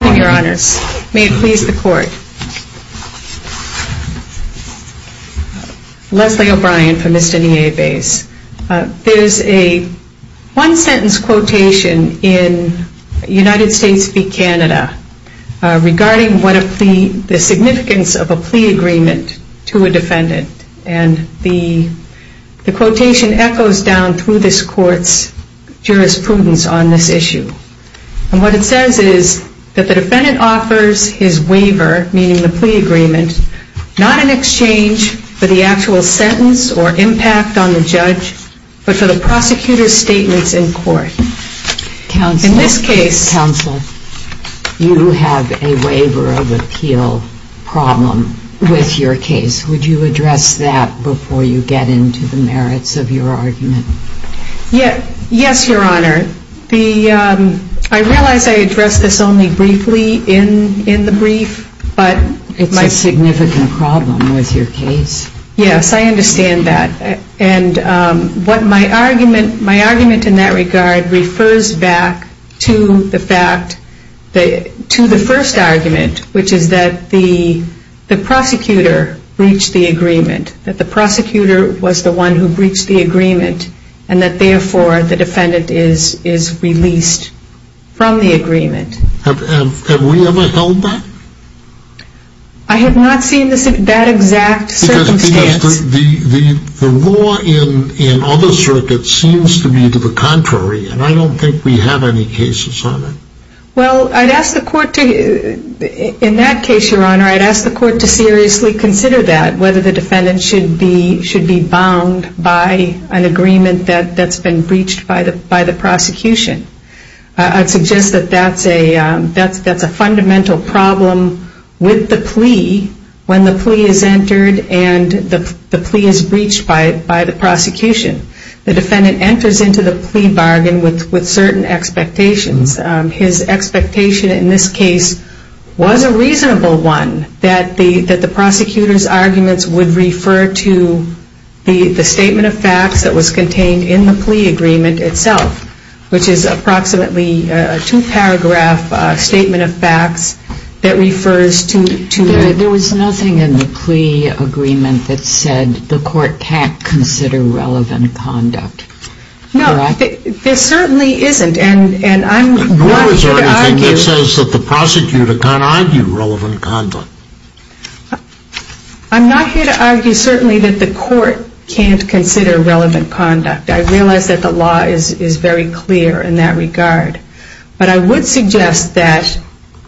There is a one sentence quotation in United States v. Canada regarding the significance of a plea agreement to a defendant. The quotation echoes down through this court's jurisprudence on this issue. What it says is that the defendant offers his waiver, meaning the plea agreement, not in exchange for the actual sentence or impact on the judge, but for the prosecutor's statements in court. Counsel, you have a waiver of appeal problem with your case. Would you address that before you get into the merits of your argument? Yes, Your Honor. I realize I addressed this only briefly in the brief, but my argument in that regard refers back to the first argument, which is that the prosecutor breached the agreement, and that therefore the defendant is released from the agreement. Have we ever held that? I have not seen that exact circumstance. Because the law in other circuits seems to be to the contrary, and I don't think we have any cases on it. Well, I'd ask the court to, in that case, Your Honor, I'd ask the court to seriously consider that, whether the defendant should be bound by an agreement that's been breached by the prosecution. I'd suggest that that's a fundamental problem with the plea when the plea is entered and the plea is breached by the prosecution. The defendant enters into the plea bargain with certain expectations. His expectation in this case was a reasonable one, that the prosecutor's arguments would refer to the statement of facts that was contained in the plea agreement itself, which is approximately a two-paragraph statement of facts that refers to the plea agreement. There was nothing in the plea agreement that said the court can't consider relevant conduct. No, there certainly isn't, and I'm not here to argue that the court can't consider relevant conduct. I realize that the law is very clear in that regard, but I would suggest that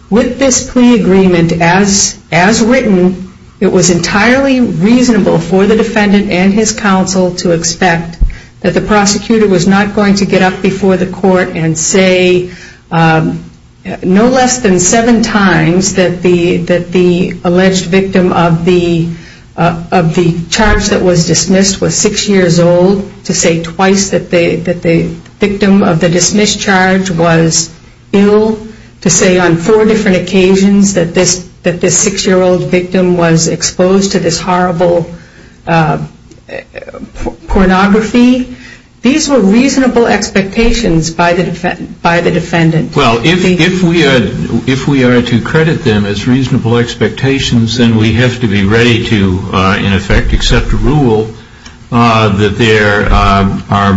with this plea agreement as written, it was entirely reasonable for the defendant and his counsel to expect that the prosecutor was not going to get up before the court and say no less than seven times that the alleged victim of the charge that was dismissed was six years old, to say twice that the victim of the dismissed charge was ill, to say on four different occasions that this six-year-old victim was exposed to this horrible pornography. These were reasonable expectations by the defendant. Well, if we are to credit them as reasonable expectations, then we have to be ready to, in effect, accept a rule that there are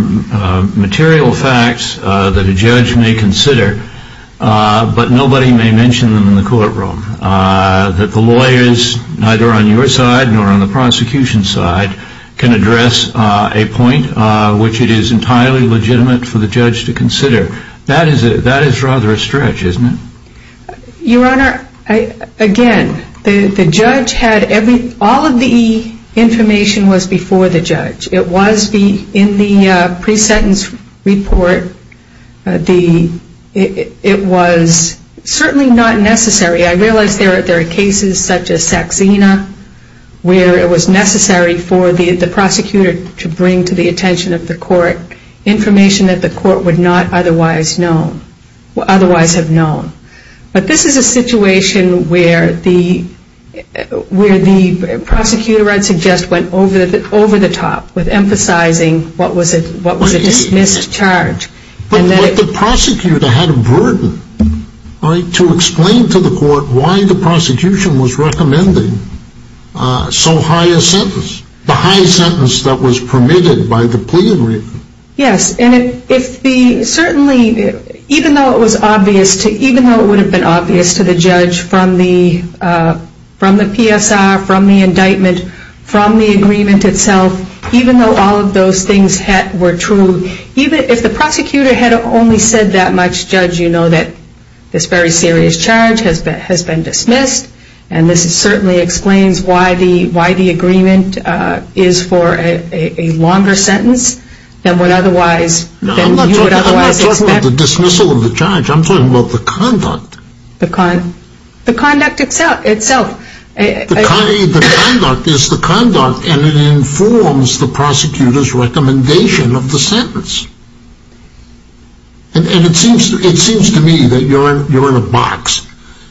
material facts that a judge may consider, but nobody may mention them in the courtroom, that the lawyers, neither on your side nor on the prosecution side, can address a point which it is entirely legitimate for the judge to consider. That is rather a stretch, isn't it? Your Honor, again, the judge had, all of the information was before the judge. It was in the pre-sentence report. It was certainly not necessary. I realize there are cases such as Saxena where it was necessary for the prosecutor to bring to the attention of the court information that the court would not otherwise have known. But this is a situation where the prosecutor, I would suggest, went over the top with emphasizing what was a dismissed charge. But the prosecutor had a burden, right, to explain to the court why the prosecution was recommending so high a sentence, the high sentence that was permitted by the plea agreement. Yes, and certainly, even though it would have been obvious to the judge from the PSR, from the indictment, from the agreement itself, even though all of those things were true, even if the prosecutor had only said that much, Judge, you know that this very serious charge has been dismissed, and this certainly explains why the agreement is for a longer sentence than would otherwise, than you would otherwise expect. I'm not talking about the dismissal of the charge. I'm talking about the conduct. The conduct itself. The conduct is the conduct, and it informs the prosecutor's recommendation of the sentence. And it seems to me that you're in a box,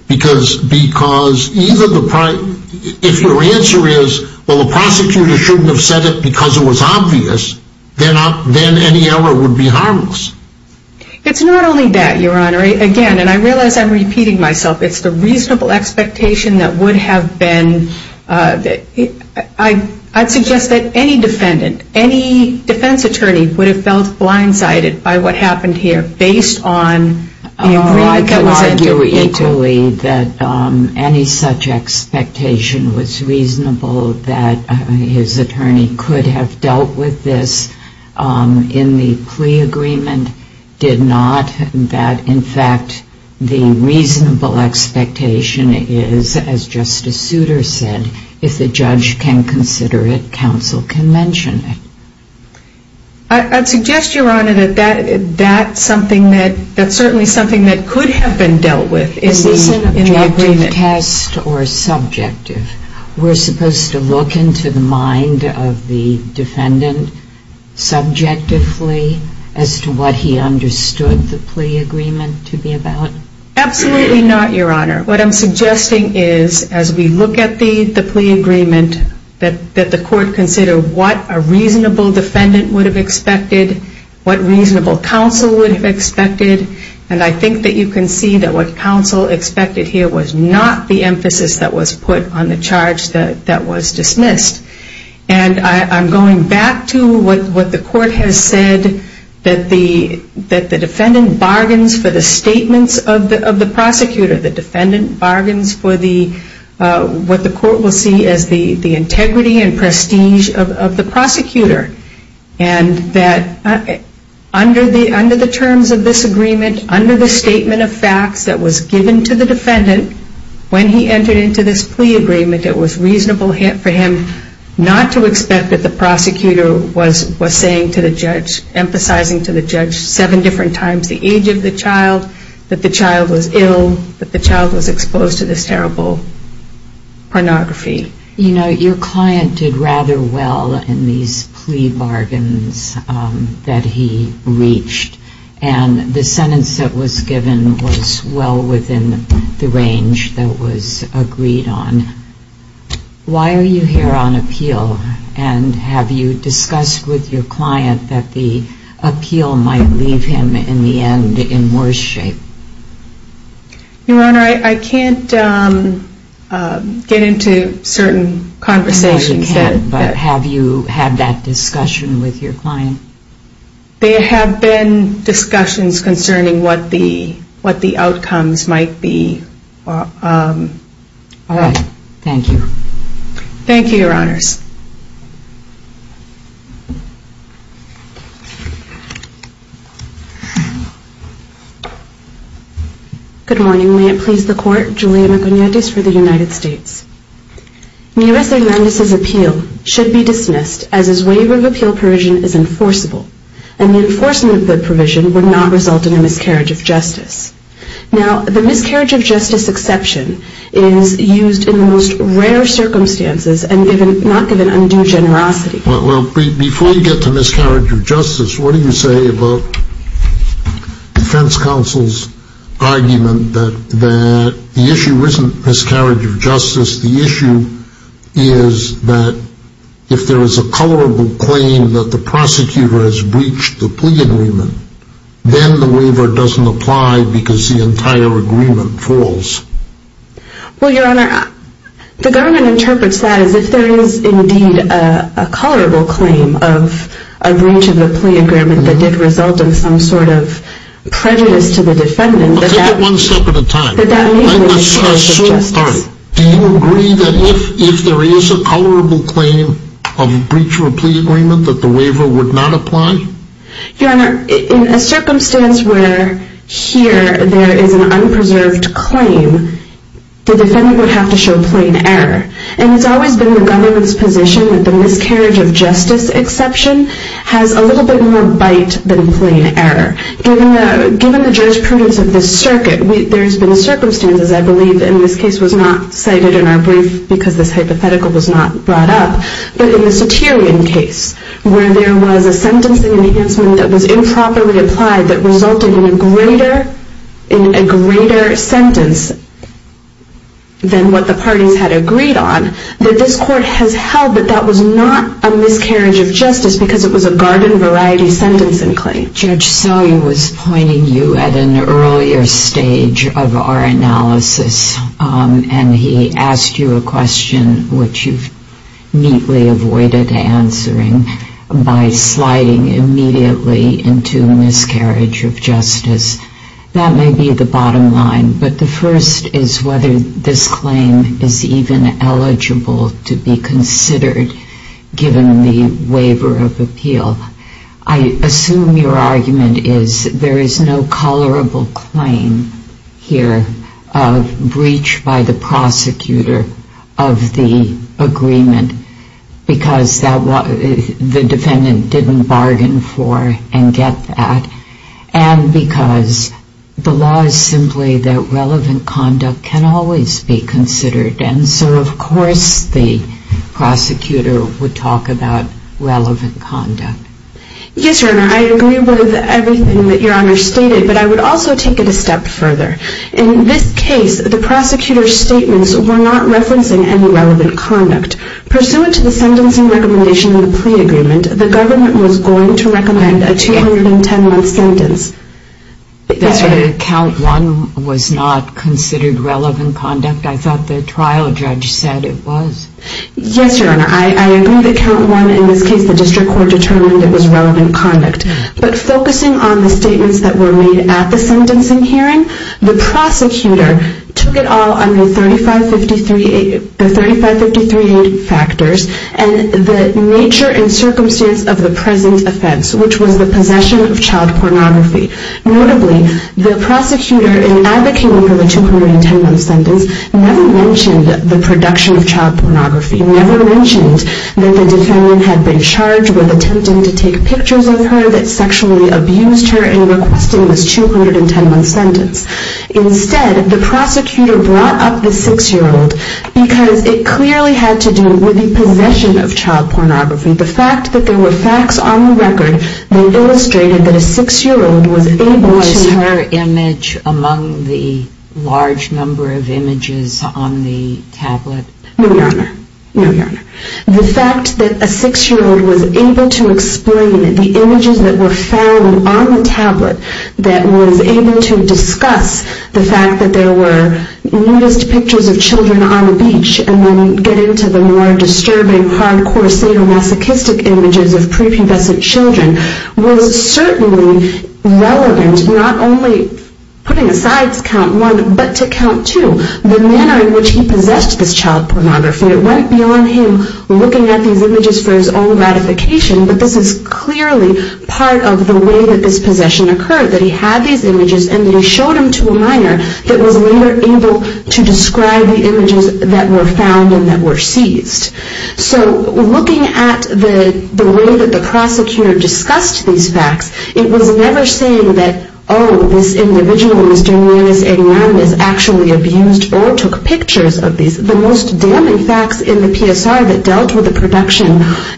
because if your answer is, well, the prosecutor shouldn't have said it because it was obvious, then any error would be harmless. It's not only that, Your Honor. Again, and I realize I'm repeating myself, it's the reasonable expectation that would have been, I'd suggest that any defendant, any defense attorney would have felt blindsided by what happened here based on the agreement that was entered. Well, I can argue equally that any such expectation was reasonable that his attorney could have dealt with this in the plea agreement did not, that, in fact, the reasonable expectation is, as Justice Souter said, if the judge can consider it, counsel can mention it. I'd suggest, Your Honor, that that's something that, that's certainly something that could have been dealt with. In the objective test or subjective, we're supposed to look into the mind of the defendant subjectively as to what he understood the plea agreement to be about? Absolutely not, Your Honor. What I'm suggesting is, as we look at the plea agreement, that the court consider what a reasonable defendant would have expected, what reasonable counsel would have expected, and I think that you can see that what counsel expected here was not the emphasis that was put on the charge that was dismissed. And I'm going back to what the court has said, that the defendant bargains for the statements of the prosecutor. The defendant bargains for the, what the court will see as the integrity and prestige of the prosecutor, and that under the terms of this agreement, under the statement of facts that was given to the defendant, when he entered into this plea agreement, it was reasonable for him not to expect that the prosecutor was, was saying to the judge, emphasizing to the judge seven different times the age of the child, that the child was ill, that the child was exposed to this terrible pornography. You know, your client did rather well in these plea bargains that he reached, and the judge said, why are you here on appeal, and have you discussed with your client that the appeal might leave him, in the end, in worse shape? Your Honor, I can't get into certain conversations. No, you can't, but have you had that discussion with your client? There have been discussions concerning what the, what the outcomes might be. All right. Thank you. Thank you, Your Honors. Good morning. May it please the Court, Julia McIgnatius for the United States. Nearest Agrandiz's appeal should be dismissed, as his waiver of appeal provision is enforceable, and the enforcement of the provision would not result in a miscarriage of justice. Now, the miscarriage of justice exception is used in the most rare circumstances, and not given undue generosity. Well, before you get to miscarriage of justice, what do you say about defense counsel's argument that the issue isn't miscarriage of justice, the issue is that if there is a colorable claim that the prosecutor has breached the plea agreement, then the waiver doesn't apply because the entire agreement falls? Well, Your Honor, the government interprets that as if there is indeed a colorable claim of a breach of the plea agreement that did result in some sort of prejudice to the defendant. Well, take it one step at a time. That that may be miscarriage of justice. All right. Do you agree that if there is a colorable claim of breach of a plea agreement, that the waiver would not apply? Your Honor, in a circumstance where here there is an unpreserved claim, the defendant would have to show plain error. And it's always been the government's position that the miscarriage of justice exception has a little bit more bite than plain error. Given the jurisprudence of this circuit, there's been a circumstance, as I believe in this case was not cited in our brief because this hypothetical was not brought up, but in the ceterion case where there was a sentencing enhancement that was improperly applied that resulted in a greater sentence than what the parties had agreed on, that this court has held that that was not a miscarriage of justice because it was a garden variety sentencing claim. Judge Sully was pointing you at an earlier stage of our analysis and he asked you a question which you've neatly avoided answering by sliding immediately into miscarriage of justice. That may be the bottom line, but the first is whether this claim is even eligible to be considered given the waiver of appeal. I assume your argument is there is no colorable claim here of breach by the prosecutor of the agreement because the defendant didn't bargain for and get that and because the law is simply that relevant conduct can always be considered and so of course the prosecutor would talk about relevant conduct. Yes, Your Honor, I agree with everything that Your Honor stated, but I would also take it a step further. In this case, the prosecutor's statements were not referencing any relevant conduct. Pursuant to the sentencing recommendation of the plea agreement, the government was going to recommend a 210-month sentence. That's right, count one was not considered relevant conduct. I thought the trial judge said it was. Yes, Your Honor, I agree that count one, in this case the district court determined it was relevant conduct, but focusing on the statements that were made at the sentencing hearing, the prosecutor took it all under the 3553-8 factors and the nature and circumstance of the present offense, which was the possession of child pornography. Notably, the prosecutor in advocating for the 210-month sentence never mentioned the production of child pornography, never mentioned that the defendant had been charged with attempting to take pictures of her that sexually abused her in requesting this 210-month sentence. Instead, the prosecutor brought up the six-year-old because it clearly had to do with the possession of child pornography. The fact that there were facts on the record that illustrated that a six-year-old was able to... Was her image among the large number of images on the tablet? No, Your Honor. No, Your Honor. The fact that a six-year-old was able to explain the images that were found on the tablet that was able to discuss the fact that there were nudist pictures of children on the beach and then get into the more disturbing, hardcore, sadomasochistic images of prepubescent children was certainly relevant, not only putting aside count one, but to count two. The manner in which he possessed this child pornography, it went beyond him looking at these images for his own ratification, but this is clearly part of the way that this possession occurred, that he had these images and that he showed them to a minor that was later able to describe the images that were found and that were seized. So, looking at the way that the prosecutor discussed these facts, it was never saying that, oh, this individual, Mr. Nunez, 89, is actually abused or took pictures of these. The most damning facts in the PSR that dealt with the production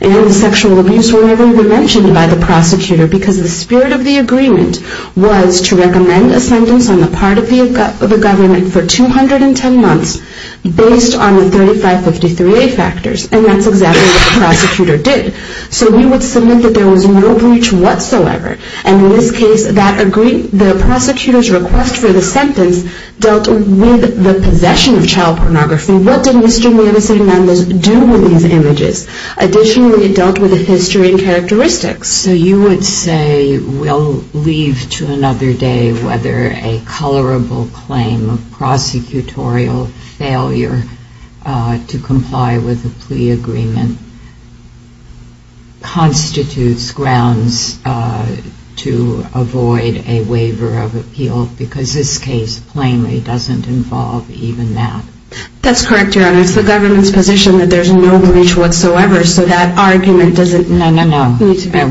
and the sexual abuse were never even mentioned by the prosecutor, because the spirit of the agreement was to recommend a sentence on the part of the government for 210 months based on the 3553A factors, and that's exactly what the prosecutor did. So he would submit that there was no breach whatsoever, and in this case, the prosecutor's request for the sentence dealt with the possession of child pornography. What did Mr. Nunez do with these images? Additionally, it dealt with the history and characteristics. So you would say we'll leave to another day whether a colorable claim of prosecutorial failure to comply with the plea agreement constitutes grounds to avoid a waiver of appeal, because this case plainly doesn't involve even that. That's correct, Your Honor. It's the government's position that there's no breach whatsoever, so that argument doesn't... No, no, no.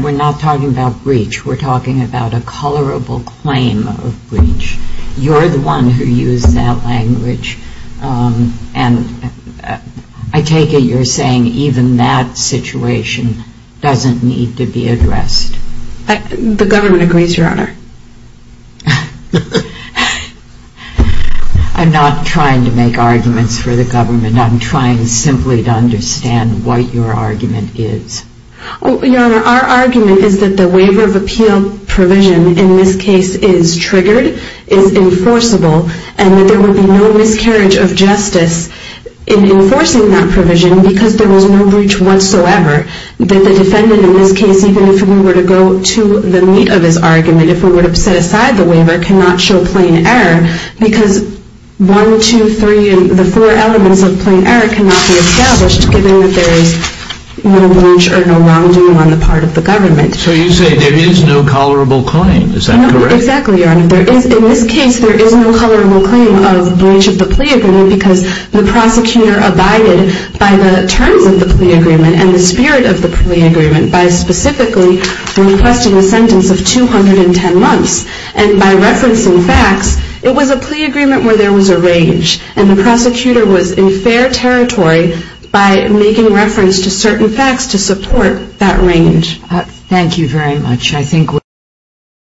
We're not talking about breach. We're talking about a colorable claim of breach. You're the one who used that language, and I take it you're saying even that situation doesn't need to be addressed. The government agrees, Your Honor. I'm not trying to make arguments for the government. I'm trying simply to understand what your argument is. Your Honor, our argument is that the waiver of appeal provision in this case is triggered, is enforceable, and that there would be no miscarriage of justice in enforcing that provision because there was no breach whatsoever. That the defendant in this case, even if we were to go to the meat of his argument, if we were to set aside the waiver, cannot show plain error because 1, 2, 3, and the 4 elements of plain error cannot be established given that there is no breach or no wrongdoing on the part of the government. So you say there is no colorable claim. Is that correct? Exactly, Your Honor. In this case, there is no colorable claim of breach of the plea agreement because the prosecutor abided by the terms of the plea agreement and the spirit of the plea agreement by specifically requesting a sentence of 210 months. And by referencing facts, it was a plea agreement where there was a range. And the prosecutor was in fair territory by making reference to certain facts to support that range. Thank you very much.